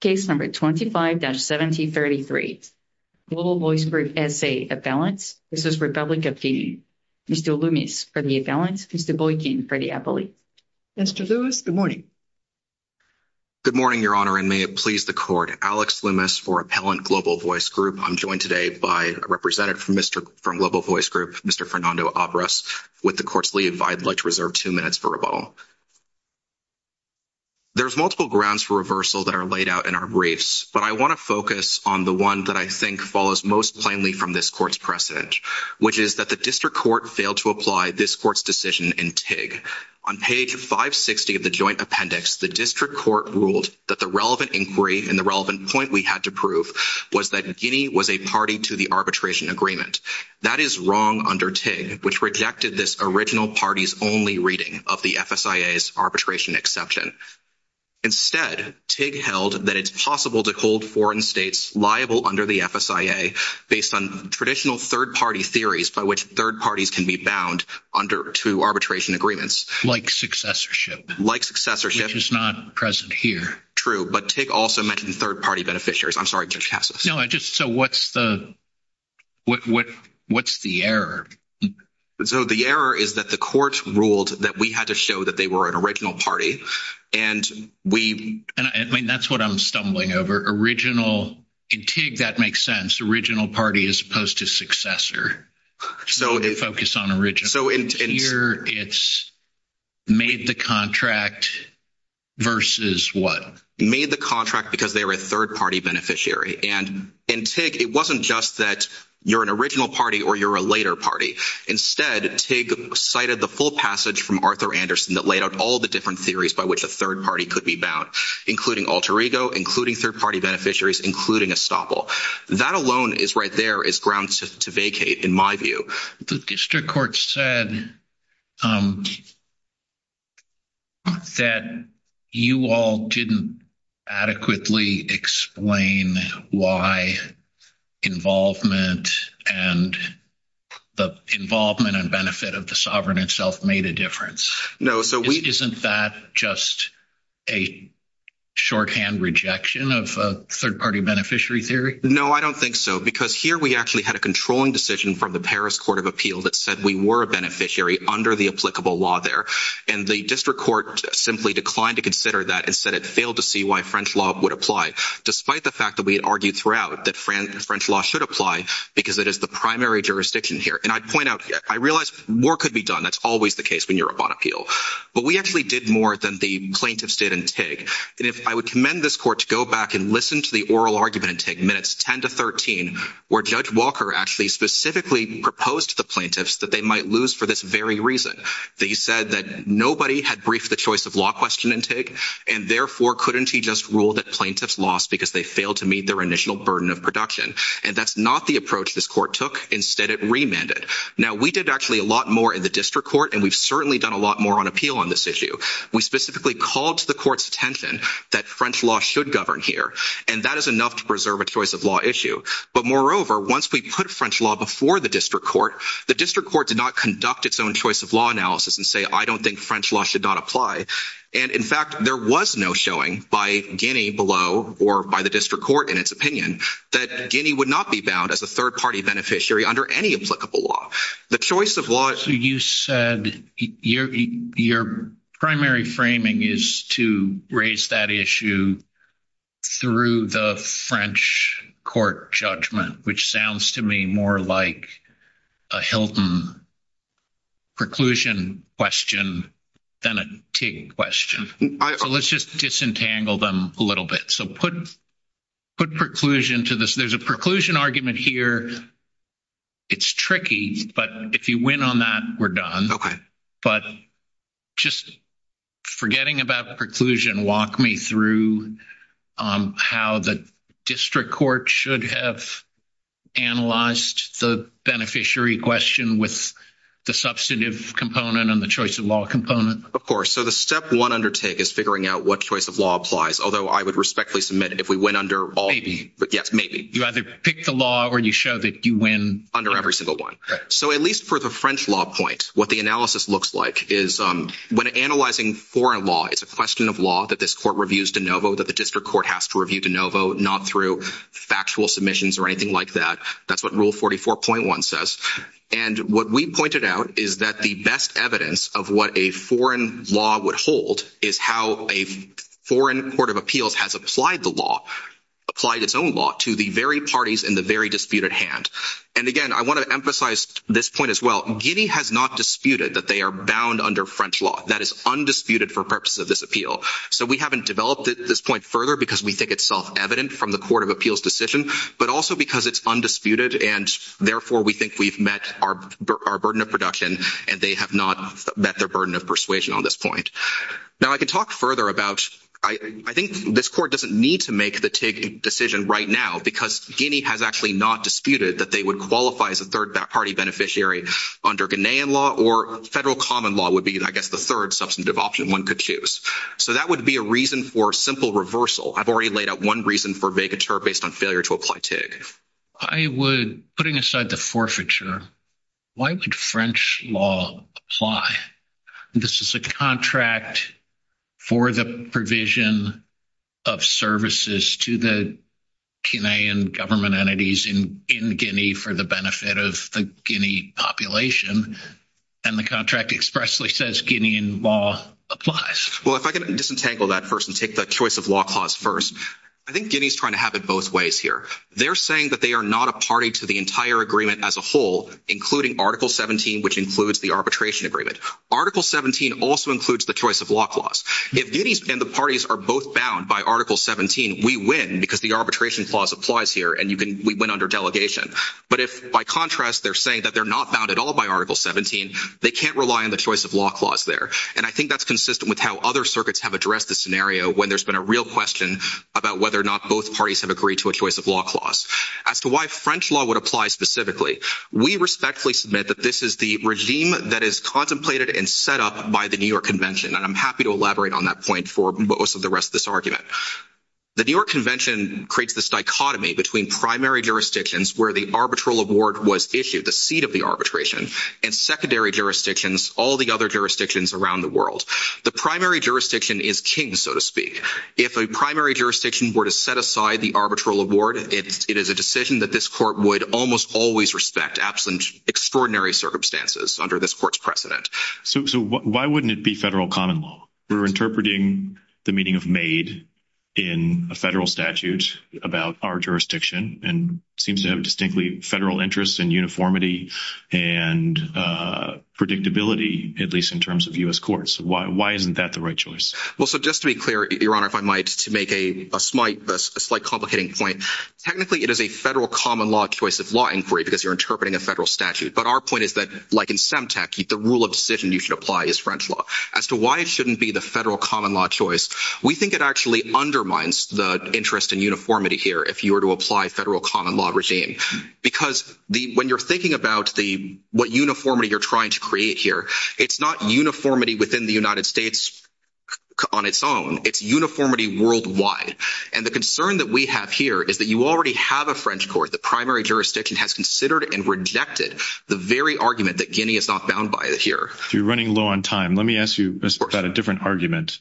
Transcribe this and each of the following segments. Case No. 25-1733, Global Voice Group SA, Appellants. This is Republic of Guinea. Mr. Loomis for the Appellants. Mr. Boykin for the Appellate. Mr. Lewis, good morning. Good morning, Your Honor, and may it please the Court. Alex Loomis for Appellant Global Voice Group. I'm joined today by a representative from Global Voice Group, Mr. Fernando Avras. With the Court's leave, I'd like to reserve two minutes for rebuttal. There's multiple grounds for reversal that are laid out in our briefs, but I want to focus on the one that I think follows most plainly from this Court's precedent, which is that the District Court failed to apply this Court's decision in TIG. On page 560 of the joint appendix, the District Court ruled that the relevant inquiry and the relevant point we had to prove was that Guinea was a party to the arbitration agreement. That is wrong under TIG, which rejected this original party's only reading of the FSIA's arbitration exception. Instead, TIG held that it's possible to hold foreign states liable under the FSIA based on traditional third-party theories by which third parties can be bound under two arbitration agreements. Like successorship. Like successorship. Which is not present here. True, but TIG also mentioned third-party beneficiaries. I'm sorry, Judge Cassis. No, I just – so what's the – what's the error? So the error is that the Court ruled that we had to show that they were an original party, and we – I mean, that's what I'm stumbling over. Original – in TIG, that makes sense. Original party as opposed to successor. So – I'm going to focus on original. So in – Here, it's made the contract versus what? Made the contract because they were a third-party beneficiary. And in TIG, it wasn't just that you're an original party or you're a later party. Instead, TIG cited the full passage from Arthur Anderson that laid out all the different theories by which a third party could be bound, including alter ego, including third-party beneficiaries, including estoppel. That alone is right there, is ground to vacate, in my view. The district court said that you all didn't adequately explain why involvement and – the involvement and benefit of the sovereign itself made a difference. No, so we – Isn't that just a shorthand rejection of third-party beneficiary theory? No, I don't think so because here we actually had a controlling decision from the Paris Court of Appeal that said we were a beneficiary under the applicable law there. And the district court simply declined to consider that and said it failed to see why French law would apply despite the fact that we had argued throughout that French law should apply because it is the primary jurisdiction here. And I'd point out – I realize more could be done. That's always the case when you're up on appeal. But we actually did more than the plaintiffs did in TIG. And if I would commend this court to go back and listen to the oral argument in TIG minutes 10 to 13, where Judge Walker actually specifically proposed to the plaintiffs that they might lose for this very reason. That he said that nobody had briefed the choice of law question in TIG, and therefore couldn't he just rule that plaintiffs lost because they failed to meet their initial burden of production? And that's not the approach this court took. Instead, it remanded. Now, we did actually a lot more in the district court, and we've certainly done a lot more on appeal on this issue. We specifically called to the court's attention that French law should govern here, and that is enough to preserve a choice of law issue. But moreover, once we put French law before the district court, the district court did not conduct its own choice of law analysis and say I don't think French law should not apply. And in fact, there was no showing by Guinea below or by the district court in its opinion that Guinea would not be bound as a third-party beneficiary under any applicable law. The choice of law – Your primary framing is to raise that issue through the French court judgment, which sounds to me more like a Hilton preclusion question than a TIG question. So let's just disentangle them a little bit. So put preclusion to this. There's a preclusion argument here. It's tricky, but if you win on that, we're done. Okay. But just forgetting about preclusion, walk me through how the district court should have analyzed the beneficiary question with the substantive component and the choice of law component. Of course. So the step one under TIG is figuring out what choice of law applies, although I would respectfully submit if we went under all – Yes, maybe. You either pick the law or you show that you win. Under every single one. So at least for the French law point, what the analysis looks like is when analyzing foreign law, it's a question of law that this court reviews de novo, that the district court has to review de novo, not through factual submissions or anything like that. That's what Rule 44.1 says. And what we pointed out is that the best evidence of what a foreign law would hold is how a foreign court of appeals has applied the law, applied its own law to the very parties in the very disputed hand. And, again, I want to emphasize this point as well. Guinea has not disputed that they are bound under French law. That is undisputed for purposes of this appeal. So we haven't developed it at this point further because we think it's self-evident from the court of appeals' decision, but also because it's undisputed and, therefore, we think we've met our burden of production and they have not met their burden of persuasion on this point. Now, I can talk further about – I think this court doesn't need to make the TIG decision right now because Guinea has actually not disputed that they would qualify as a third-party beneficiary under Ghanaian law or federal common law would be, I guess, the third substantive option one could choose. So that would be a reason for simple reversal. I've already laid out one reason for végateur based on failure to apply TIG. I would – putting aside the forfeiture, why would French law apply? This is a contract for the provision of services to the Ghanaian government entities in Guinea for the benefit of the Guinea population, and the contract expressly says Guinean law applies. Well, if I can disentangle that first and take the choice of law clause first, I think Guinea is trying to have it both ways here. They're saying that they are not a party to the entire agreement as a whole, including Article 17, which includes the arbitration agreement. Article 17 also includes the choice of law clause. If Guinea and the parties are both bound by Article 17, we win because the arbitration clause applies here and we win under delegation. But if, by contrast, they're saying that they're not bound at all by Article 17, they can't rely on the choice of law clause there. And I think that's consistent with how other circuits have addressed the scenario when there's been a real question about whether or not both parties have agreed to a choice of law clause. As to why French law would apply specifically, we respectfully submit that this is the regime that is contemplated and set up by the New York Convention, and I'm happy to elaborate on that point for most of the rest of this argument. The New York Convention creates this dichotomy between primary jurisdictions where the arbitral award was issued, the seat of the arbitration, and secondary jurisdictions, all the other jurisdictions around the world. The primary jurisdiction is king, so to speak. If a primary jurisdiction were to set aside the arbitral award, it is a decision that this court would almost always respect, absent extraordinary circumstances under this court's precedent. So why wouldn't it be federal common law? We're interpreting the meaning of made in a federal statute about our jurisdiction and seems to have distinctly federal interests in uniformity and predictability, at least in terms of U.S. courts. Why isn't that the right choice? Well, so just to be clear, Your Honor, if I might, to make a slight complicating point, technically, it is a federal common law choice of law inquiry because you're interpreting a federal statute. But our point is that, like in SEMTEC, the rule of decision you should apply is French law. As to why it shouldn't be the federal common law choice, we think it actually undermines the interest in uniformity here if you were to apply federal common law regime. Because when you're thinking about what uniformity you're trying to create here, it's not uniformity within the United States on its own. It's uniformity worldwide. And the concern that we have here is that you already have a French court, the primary jurisdiction, has considered and rejected the very argument that Guinea is not bound by here. You're running low on time. Let me ask you about a different argument.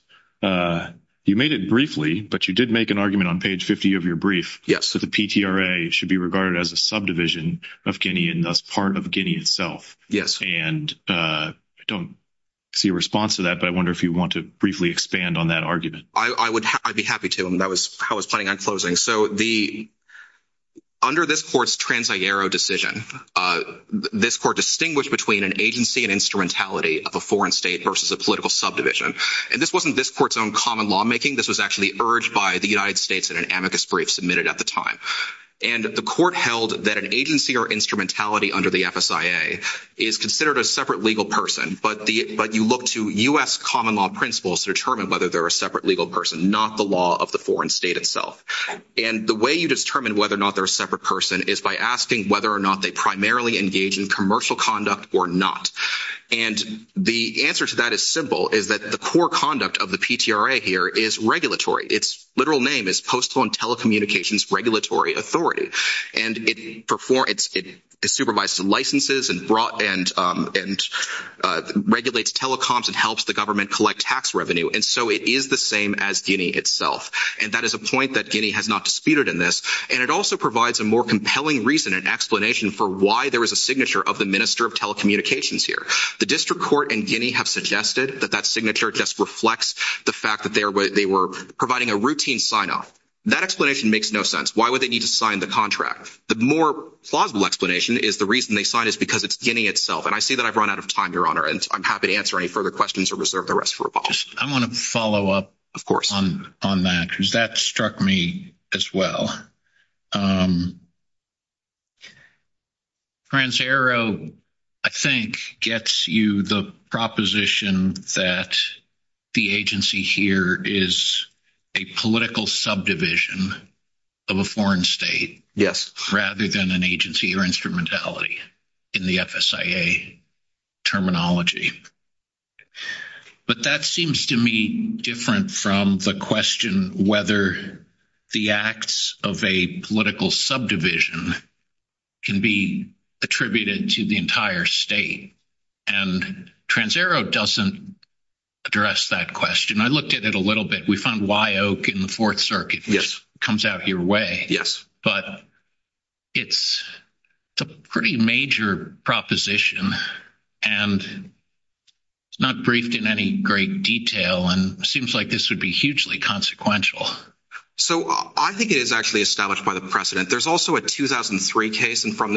You made it briefly, but you did make an argument on page 50 of your brief. So the PTRA should be regarded as a subdivision of Guinea and thus part of Guinea itself. Yes. And I don't see a response to that, but I wonder if you want to briefly expand on that argument. I'd be happy to. That was how I was planning on closing. So under this court's Trans-Sierra decision, this court distinguished between an agency and instrumentality of a foreign state versus a political subdivision. And this wasn't this court's own common lawmaking. This was actually urged by the United States in an amicus brief submitted at the time. And the court held that an agency or instrumentality under the FSIA is considered a separate legal person. But you look to U.S. common law principles to determine whether they're a separate legal person, not the law of the foreign state itself. And the way you determine whether or not they're a separate person is by asking whether or not they primarily engage in commercial conduct or not. And the answer to that is simple, is that the core conduct of the PTRA here is regulatory. Its literal name is Postal and Telecommunications Regulatory Authority. And it supervises licenses and regulates telecoms and helps the government collect tax revenue. And so it is the same as Guinea itself. And that is a point that Guinea has not disputed in this. And it also provides a more compelling reason and explanation for why there is a signature of the minister of telecommunications here. The district court in Guinea have suggested that that signature just reflects the fact that they were providing a routine sign-off. That explanation makes no sense. Why would they need to sign the contract? The more plausible explanation is the reason they signed is because it's Guinea itself. And I see that I've run out of time, Your Honor, and I'm happy to answer any further questions or reserve the rest for a follow-up. I want to follow up on that because that struck me as well. TransAero, I think, gets you the proposition that the agency here is a political subdivision of a foreign state rather than an agency or instrumentality in the FSIA terminology. But that seems to me different from the question whether the acts of a political subdivision can be attributed to the entire state. And TransAero doesn't address that question. I looked at it a little bit. We found Wyoke in the Fourth Circuit, which comes out your way. But it's a pretty major proposition, and it's not briefed in any great detail, and it seems like this would be hugely consequential. So I think it is actually established by the precedent. There's also a 2003 case from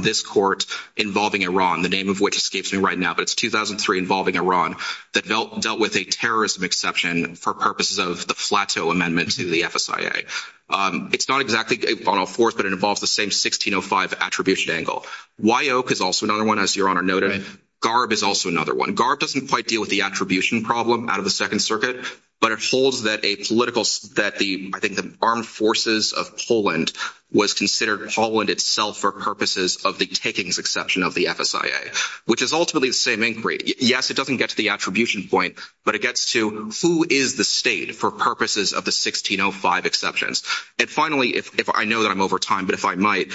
this court involving Iran, the name of which escapes me right now. But it's 2003 involving Iran that dealt with a terrorism exception for purposes of the plateau amendment to the FSIA. It's not exactly Bono IV, but it involves the same 1605 attribution angle. Wyoke is also another one, as Your Honor noted. GARB is also another one. GARB doesn't quite deal with the attribution problem out of the Second Circuit, but it holds that a political – that the – I think the armed forces of Poland was considered Poland itself for purposes of the takings exception of the FSIA, which is ultimately the same inquiry. Yes, it doesn't get to the attribution point, but it gets to who is the state for purposes of the 1605 exceptions. And finally, if I know that I'm over time, but if I might,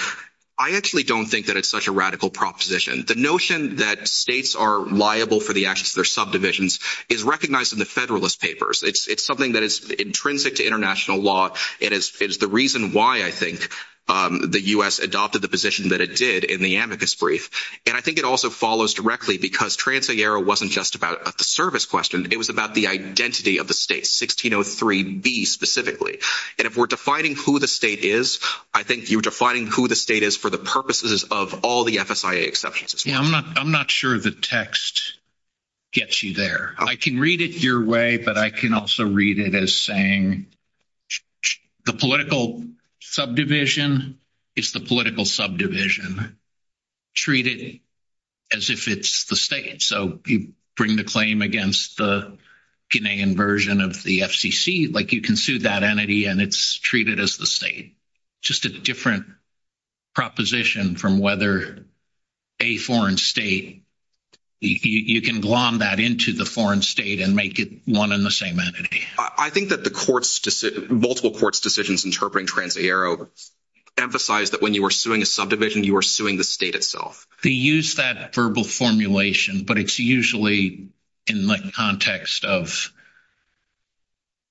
I actually don't think that it's such a radical proposition. The notion that states are liable for the actions of their subdivisions is recognized in the Federalist Papers. It's something that is intrinsic to international law, and it's the reason why I think the U.S. adopted the position that it did in the amicus brief. And I think it also follows directly because Trans-Sierra wasn't just about the service question. It was about the identity of the state, 1603B specifically. And if we're defining who the state is, I think you're defining who the state is for the purposes of all the FSIA exceptions. Yeah, I'm not sure the text gets you there. I can read it your way, but I can also read it as saying the political subdivision is the political subdivision. Treat it as if it's the state. So you bring the claim against the Guinean version of the FCC, like you can sue that entity and it's treated as the state. Just a different proposition from whether a foreign state, you can glom that into the foreign state and make it one and the same entity. I think that the multiple courts' decisions interpreting Trans-Sierra emphasized that when you were suing a subdivision, you were suing the state itself. They use that verbal formulation, but it's usually in the context of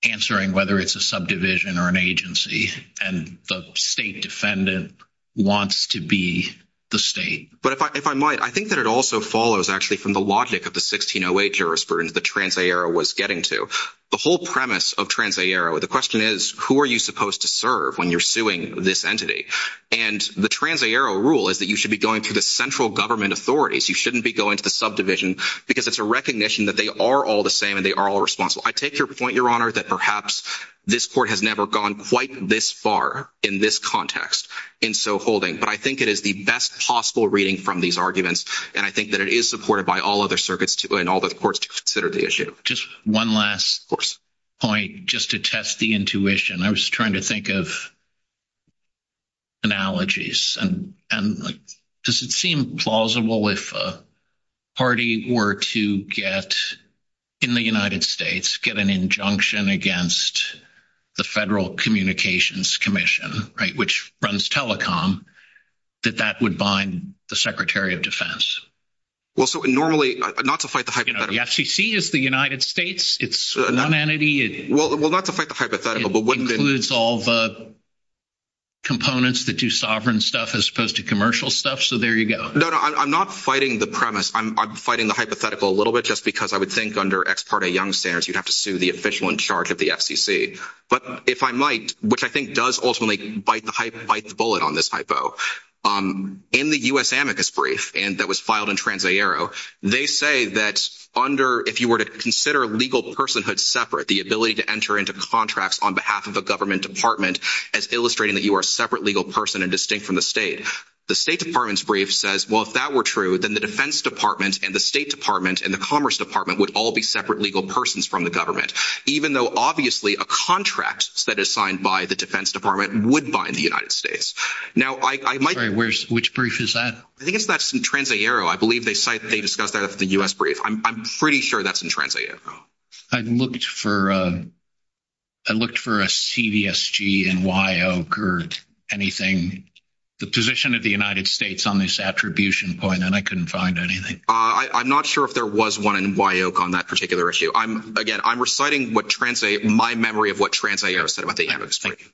answering whether it's a subdivision or an agency. And the state defendant wants to be the state. But if I might, I think that it also follows actually from the logic of the 1608 jurisprudence that Trans-Sierra was getting to. The whole premise of Trans-Sierra, the question is who are you supposed to serve when you're suing this entity? And the Trans-Sierra rule is that you should be going to the central government authorities. You shouldn't be going to the subdivision because it's a recognition that they are all the same and they are all responsible. I take your point, Your Honor, that perhaps this court has never gone quite this far in this context in so holding. But I think it is the best possible reading from these arguments, and I think that it is supported by all other circuits and all other courts to consider the issue. Just one last point just to test the intuition. I was trying to think of analogies. And does it seem plausible if a party were to get in the United States, get an injunction against the Federal Communications Commission, right, which runs telecom, that that would bind the Secretary of Defense? Well, so normally – not to fight the hypothetical. The FCC is the United States. It's one entity. Well, not to fight the hypothetical. It includes all the components that do sovereign stuff as opposed to commercial stuff, so there you go. No, no, I'm not fighting the premise. I'm fighting the hypothetical a little bit just because I would think under ex parte young standards you'd have to sue the official in charge of the FCC. But if I might, which I think does ultimately bite the bullet on this hypo. In the U.S. amicus brief that was filed in TransAero, they say that under – if you were to consider legal personhood separate, the ability to enter into contracts on behalf of a government department as illustrating that you are a separate legal person and distinct from the state. The State Department's brief says, well, if that were true, then the Defense Department and the State Department and the Commerce Department would all be separate legal persons from the government, even though obviously a contract that is signed by the Defense Department would bind the United States. Now, I might – Sorry, which brief is that? I think it's that TransAero. I believe they cite – they discussed that at the U.S. brief. I'm pretty sure that's in TransAero. I looked for a CVSG in WYOC or anything, the position of the United States on this attribution point, and I couldn't find anything. I'm not sure if there was one in WYOC on that particular issue. Again, I'm reciting what TransAero – my memory of what TransAero said about the amicus brief.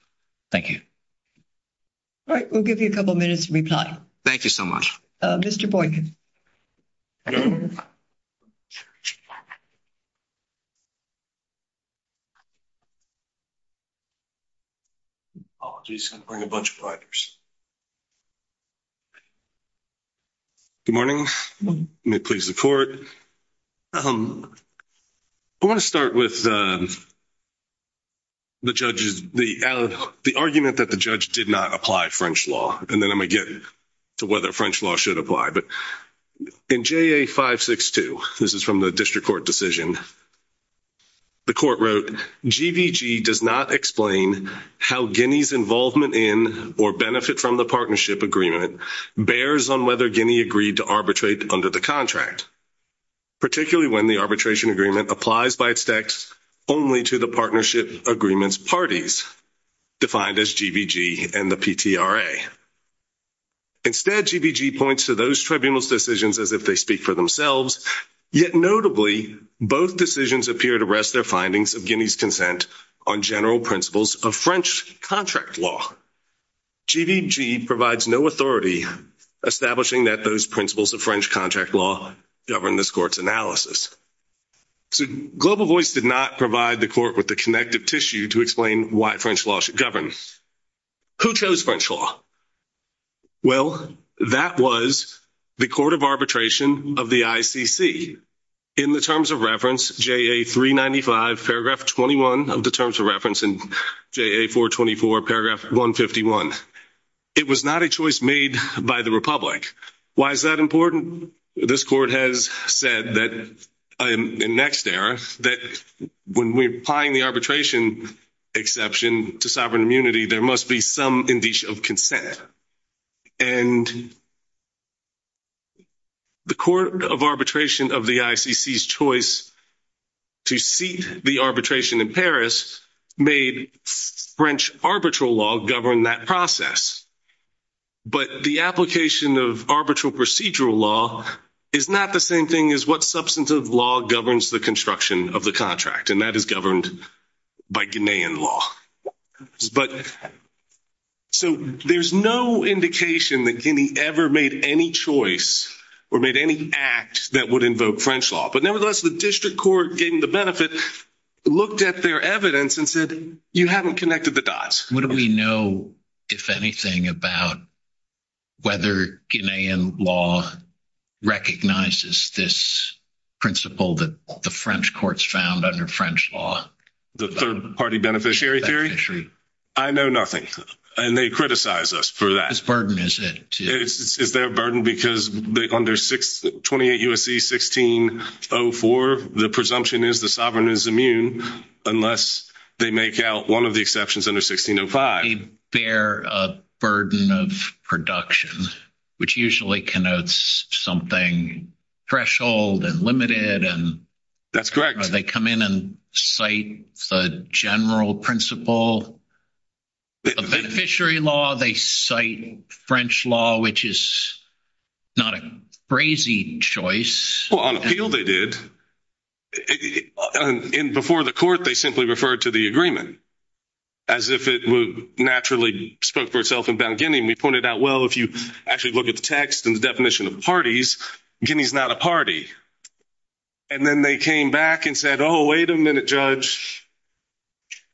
Thank you. All right. We'll give you a couple minutes to reply. Thank you so much. Mr. Boykin. Apologies. I'm going to bring a bunch of writers. Good morning. May it please the Court. I want to start with the judge's – the argument that the judge did not apply French law, and then I'm going to get to whether French law should apply. But in JA562 – this is from the district court decision – the court wrote, GVG does not explain how Guinea's involvement in or benefit from the partnership agreement bears on whether Guinea agreed to arbitrate under the contract, particularly when the arbitration agreement applies by its text only to the partnership agreement's parties, defined as GVG and the PTRA. Instead, GVG points to those tribunals' decisions as if they speak for themselves, yet notably, both decisions appear to rest their findings of Guinea's consent on general principles of French contract law. GVG provides no authority establishing that those principles of French contract law govern this court's analysis. So Global Voice did not provide the court with the connective tissue to explain why French law should govern. Who chose French law? Well, that was the court of arbitration of the ICC. In the terms of reference, JA395, paragraph 21 of the terms of reference, and JA424, paragraph 151. It was not a choice made by the Republic. Why is that important? This court has said that – in next era – that when we're applying the arbitration exception to sovereign immunity, there must be some indication of consent. And the court of arbitration of the ICC's choice to seat the arbitration in Paris made French arbitral law govern that process. But the application of arbitral procedural law is not the same thing as what substantive law governs the construction of the contract, and that is governed by Guinean law. So there's no indication that Guinea ever made any choice or made any act that would invoke French law. But nevertheless, the district court gained the benefit, looked at their evidence, and said, you haven't connected the dots. What do we know, if anything, about whether Guinean law recognizes this principle that the French courts found under French law? The third-party beneficiary theory? I know nothing. And they criticize us for that. What burden is it? Is there a burden because under 28 U.S.C. 1604, the presumption is the sovereign is immune unless they make out one of the exceptions under 1605. They bear a burden of production, which usually connotes something threshold and limited. That's correct. They come in and cite the general principle of beneficiary law. They cite French law, which is not a crazy choice. Well, on appeal, they did. And before the court, they simply referred to the agreement as if it naturally spoke for itself in Bound Guinea. And we pointed out, well, if you actually look at the text and the definition of parties, Guinea's not a party. And then they came back and said, oh, wait a minute, Judge.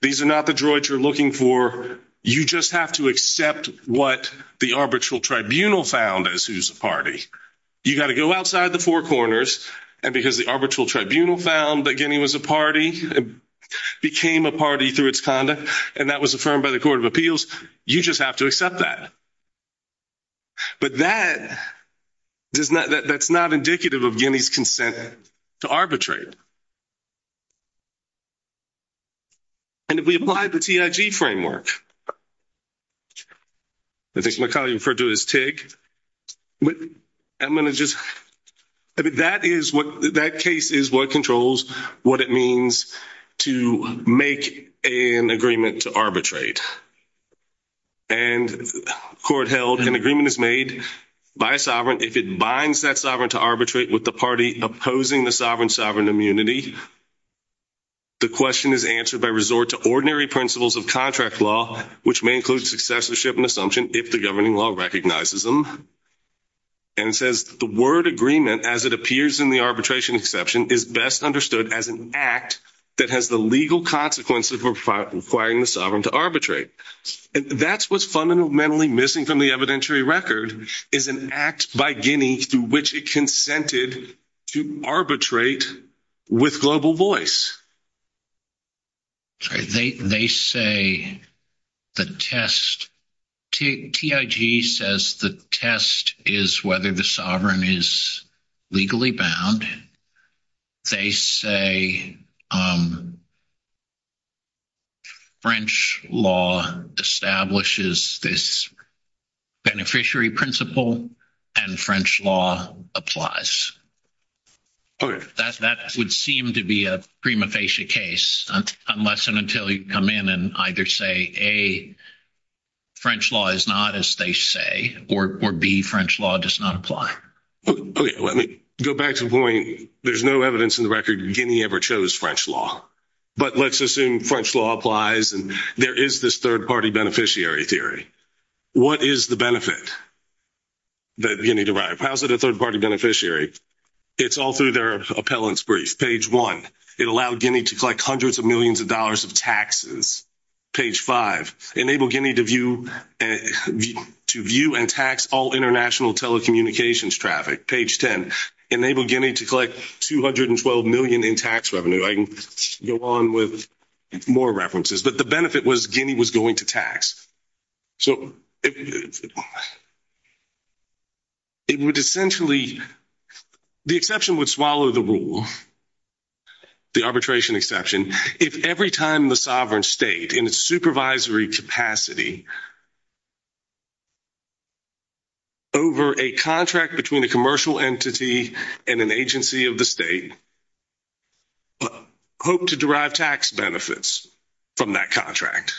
These are not the droids you're looking for. You just have to accept what the arbitral tribunal found as who's a party. You've got to go outside the four corners. And because the arbitral tribunal found that Guinea was a party, it became a party through its conduct, and that was affirmed by the Court of Appeals, you just have to accept that. But that does not – that's not indicative of Guinea's consent to arbitrate. And if we apply the TIG framework, I think Macaulay referred to it as TIG. I'm going to just – that is what – that case is what controls what it means to make an agreement to arbitrate. And the court held an agreement is made by a sovereign if it binds that sovereign to arbitrate with the party opposing the sovereign's sovereign immunity. The question is answered by resort to ordinary principles of contract law, which may include successorship and assumption if the governing law recognizes them. And it says the word agreement, as it appears in the arbitration exception, is best understood as an act that has the legal consequences for requiring the sovereign to arbitrate. And that's what's fundamentally missing from the evidentiary record is an act by Guinea through which it consented to arbitrate with global voice. They say the test – TIG says the test is whether the sovereign is legally bound. They say French law establishes this beneficiary principle, and French law applies. That would seem to be a prima facie case unless and until you come in and either say, A, French law is not as they say, or B, French law does not apply. Okay. Let me go back to the point. There's no evidence in the record Guinea ever chose French law. But let's assume French law applies, and there is this third-party beneficiary theory. What is the benefit that Guinea derived? If you deposit a third-party beneficiary, it's all through their appellant's brief, page 1. It allowed Guinea to collect hundreds of millions of dollars of taxes, page 5. Enable Guinea to view and tax all international telecommunications traffic, page 10. Enable Guinea to collect $212 million in tax revenue. I can go on with more references. But the benefit was Guinea was going to tax. So it would essentially – the exception would swallow the rule, the arbitration exception, if every time the sovereign state in its supervisory capacity over a contract between a commercial entity and an agency of the state hoped to derive tax benefits from that contract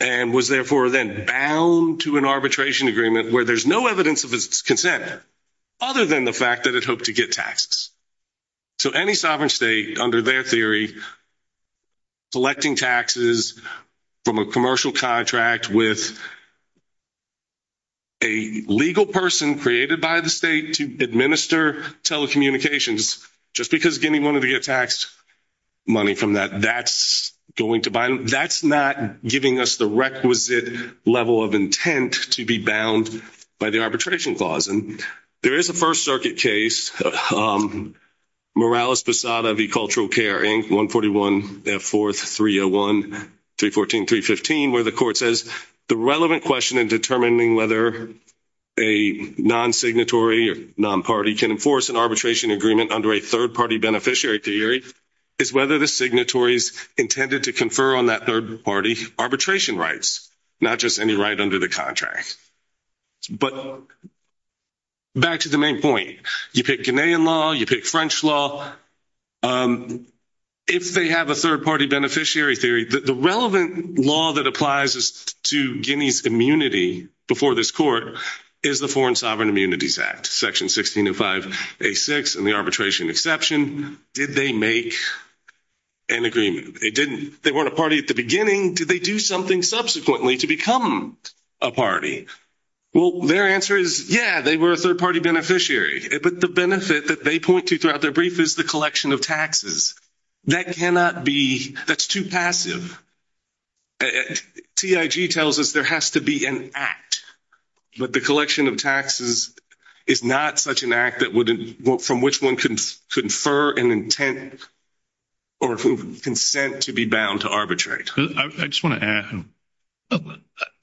and was therefore then bound to an arbitration agreement where there's no evidence of its consent other than the fact that it hoped to get taxes. So any sovereign state, under their theory, selecting taxes from a commercial contract with a legal person created by the state to administer telecommunications, just because Guinea wanted to get taxed money from that, that's going to – that's not giving us the requisite level of intent to be bound by the arbitration clause. And there is a First Circuit case, Morales-Posada v. Cultural Care, Inc., 141 F.4.301.314.315, where the court says, the relevant question in determining whether a non-signatory or non-party can enforce an arbitration agreement under a third-party beneficiary theory is whether the signatory is intended to confer on that third-party arbitration rights, not just any right under the contract. But back to the main point. You pick Guinean law, you pick French law. If they have a third-party beneficiary theory, the relevant law that applies to Guinea's immunity before this court is the Foreign Sovereign Immunities Act, Section 1605A6, and the arbitration exception. Did they make an agreement? They didn't. They weren't a party at the beginning. Did they do something subsequently to become a party? Well, their answer is, yeah, they were a third-party beneficiary. But the benefit that they point to throughout their brief is the collection of taxes. That cannot be – that's too passive. TIG tells us there has to be an act, but the collection of taxes is not such an act that would – from which one could confer an intent or consent to be bound to arbitrate. I just want to add.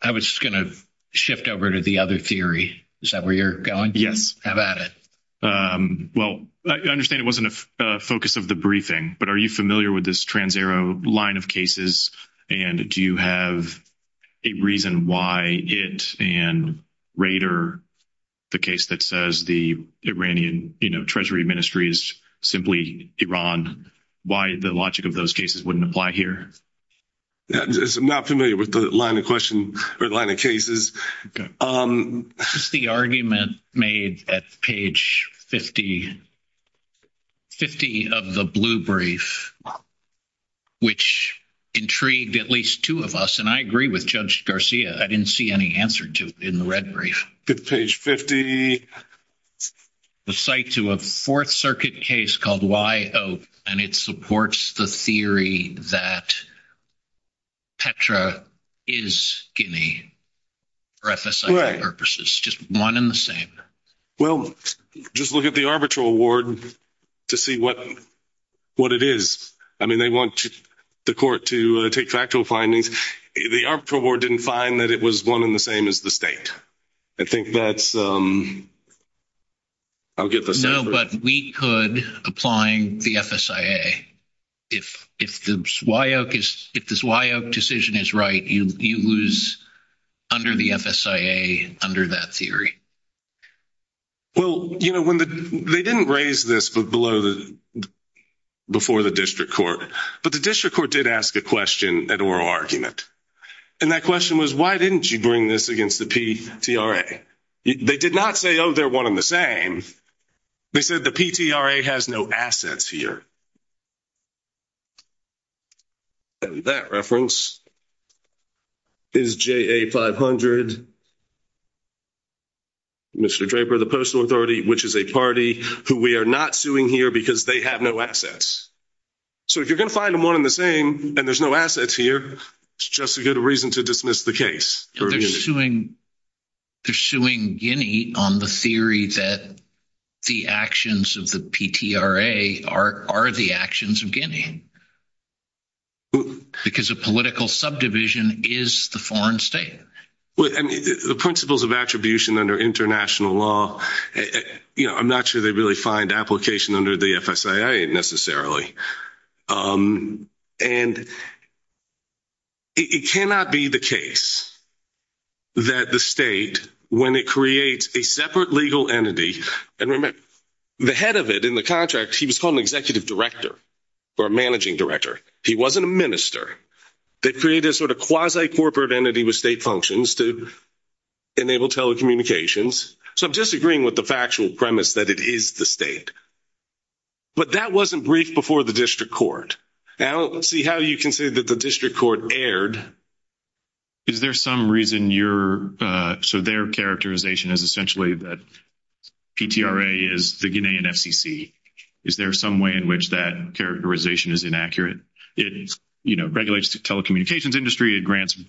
I was just going to shift over to the other theory. Is that where you're going? Yes. How about it? Well, I understand it wasn't a focus of the briefing, but are you familiar with this Trans-Ero line of cases, and do you have a reason why it and Rader, the case that says the Iranian Treasury Ministry is simply Iran, why the logic of those cases wouldn't apply here? I'm not familiar with the line of question or the line of cases. This is the argument made at page 50 of the blue brief, which intrigued at least two of us, and I agree with Judge Garcia. I didn't see any answer to it in the red brief. Page 50. The site to a Fourth Circuit case called Why Oak, and it supports the theory that Petra is Guinea for FSIC purposes. Just one and the same. Well, just look at the arbitral ward to see what it is. I mean, they want the court to take factual findings. The arbitral ward didn't find that it was one and the same as the state. I think that's – I'll give a separate – No, but we could, applying the FSIA. If the Why Oak decision is right, you lose under the FSIA, under that theory. Well, you know, they didn't raise this before the district court, but the district court did ask a question at oral argument, and that question was, why didn't you bring this against the Petra? They did not say, oh, they're one and the same. They said the Petra has no assets here. That reference is JA 500, Mr. Draper, the postal authority, which is a party who we are not suing here because they have no assets. So if you're going to find them one and the same and there's no assets here, it's just a good reason to dismiss the case. They're suing Guinea on the theory that the actions of the Petra are the actions of Guinea because a political subdivision is the foreign state. The principles of attribution under international law, I'm not sure they really find application under the FSIA necessarily. And it cannot be the case that the state, when it creates a separate legal entity, and remember, the head of it in the contract, he was called an executive director or a managing director. He wasn't a minister. They created a sort of quasi-corporate entity with state functions to enable telecommunications. So I'm disagreeing with the factual premise that it is the state. But that wasn't briefed before the district court. Now let's see how you can say that the district court erred. Is there some reason you're – so their characterization is essentially that Petra is the Guinean FCC. Is there some way in which that characterization is inaccurate? It regulates the telecommunications industry. It grants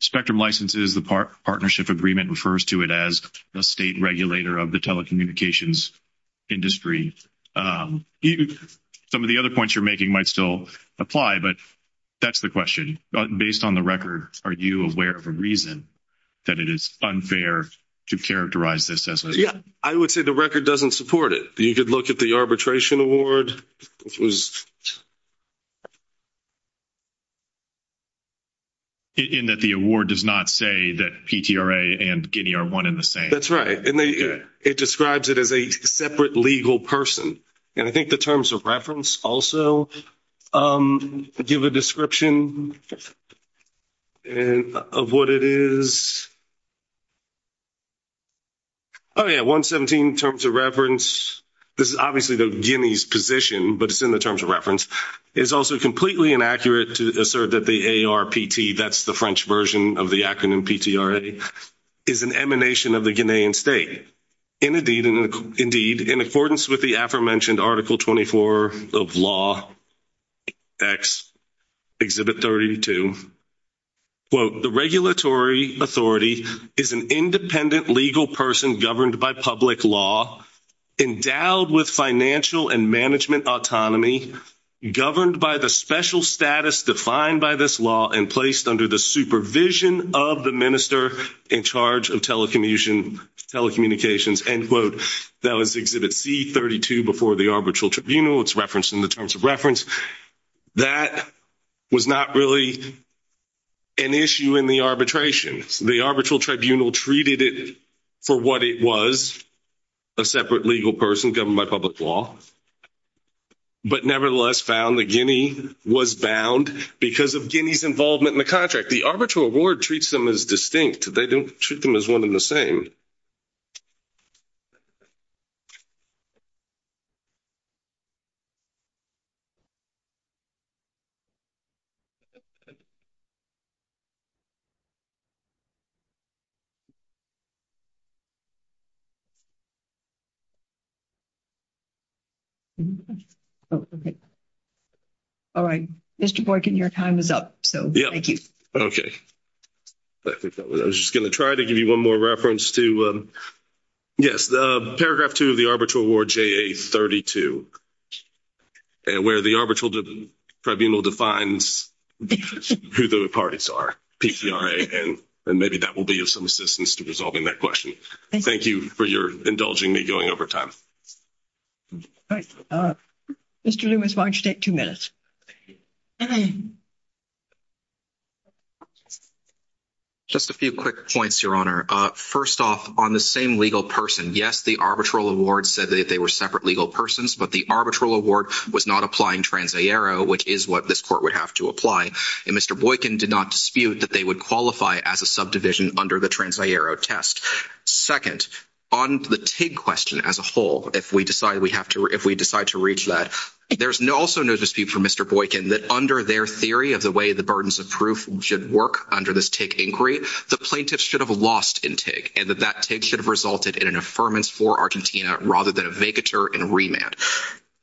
spectrum licenses. The partnership agreement refers to it as the state regulator of the telecommunications industry. Some of the other points you're making might still apply, but that's the question. Based on the record, are you aware of a reason that it is unfair to characterize this as unfair? I would say the record doesn't support it. You could look at the arbitration award. In that the award does not say that Petra and Guinea are one and the same. That's right. And it describes it as a separate legal person. And I think the terms of reference also give a description of what it is. Oh, yeah, 117 terms of reference. This is obviously the Guinea's position, but it's in the terms of reference. It is also completely inaccurate to assert that the ARPT, that's the French version of the acronym P-T-R-A, is an emanation of the Guinean state. Indeed, in accordance with the aforementioned Article 24 of Law X, Exhibit 32, quote, the regulatory authority is an independent legal person governed by public law, endowed with financial and management autonomy, governed by the special status defined by this law and placed under the supervision of the minister in charge of telecommunications, end quote. That was Exhibit C-32 before the arbitral tribunal. It's referenced in the terms of reference. That was not really an issue in the arbitration. The arbitral tribunal treated it for what it was, a separate legal person governed by public law, but nevertheless found that Guinea was bound because of Guinea's involvement in the contract. The arbitral award treats them as distinct. They don't treat them as one and the same. All right. Mr. Boykin, your time is up, so thank you. Okay. I was just going to try to give you one more reference to, yes, Paragraph 2 of the Arbitral Award JA-32, where the arbitral tribunal defines who the parties are, PQRA, and maybe that will be of some assistance to resolving that question. Thank you for indulging me going over time. All right. Mr. Loomis, why don't you take two minutes? Just a few quick points, Your Honor. First off, on the same legal person, yes, the arbitral award said that they were separate legal persons, but the arbitral award was not applying transaero, which is what this court would have to apply, and Mr. Boykin did not dispute that they would qualify as a subdivision under the transaero test. Second, on the TIG question as a whole, if we decide to reach that, there's also no dispute for Mr. Boykin that under their theory of the way the burdens of proof should work under this TIG inquiry, the plaintiffs should have lost in TIG, and that that TIG should have resulted in an affirmance for Argentina rather than a vacatur and remand.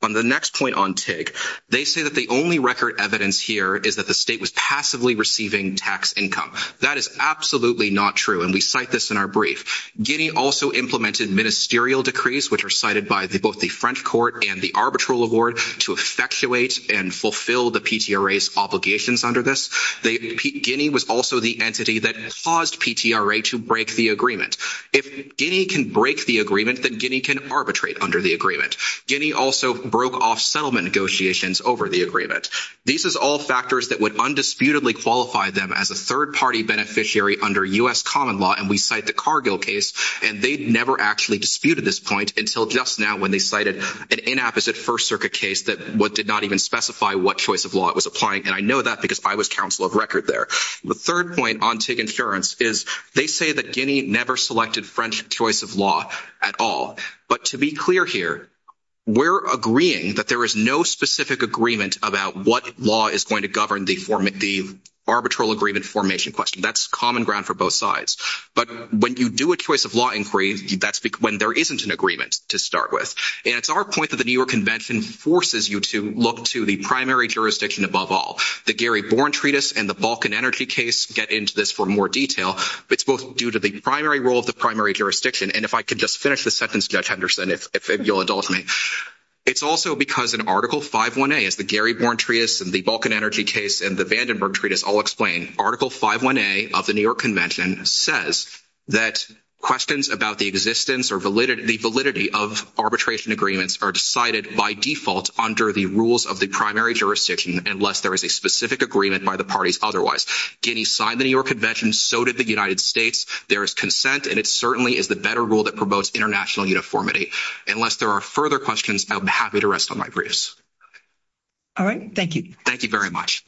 On the next point on TIG, they say that the only record evidence here is that the state was passively receiving tax income. That is absolutely not true, and we cite this in our brief. Guinea also implemented ministerial decrees, which are cited by both the French court and the arbitral award to effectuate and fulfill the PTRA's obligations under this. Guinea was also the entity that caused PTRA to break the agreement. If Guinea can break the agreement, then Guinea can arbitrate under the agreement. Guinea also broke off settlement negotiations over the agreement. These are all factors that would undisputedly qualify them as a third-party beneficiary under U.S. common law, and we cite the Cargill case, and they never actually disputed this point until just now when they cited an inapposite First Circuit case that did not even specify what choice of law it was applying, and I know that because I was counsel of record there. The third point on TIG insurance is they say that Guinea never selected French choice of law at all, but to be clear here, we're agreeing that there is no specific agreement about what law is going to govern the arbitral agreement formation question. That's common ground for both sides. But when you do a choice of law inquiry, that's when there isn't an agreement to start with, and it's our point that the New York Convention forces you to look to the primary jurisdiction above all. The Gary Born Treatise and the Balkan Energy case get into this for more detail, but it's both due to the primary role of the primary jurisdiction, and if I could just finish this sentence, Judge Henderson, if you'll indulge me. It's also because in Article 5.1a, as the Gary Born Treatise and the Balkan Energy case and the Vandenberg Treatise all explain, Article 5.1a of the New York Convention says that questions about the existence or the validity of arbitration agreements are decided by default under the rules of the primary jurisdiction unless there is a specific agreement by the parties otherwise. Guinea signed the New York Convention. So did the United States. There is consent, and it certainly is the better rule that promotes international uniformity. Unless there are further questions, I'm happy to rest on my briefs. All right. Thank you. Thank you very much.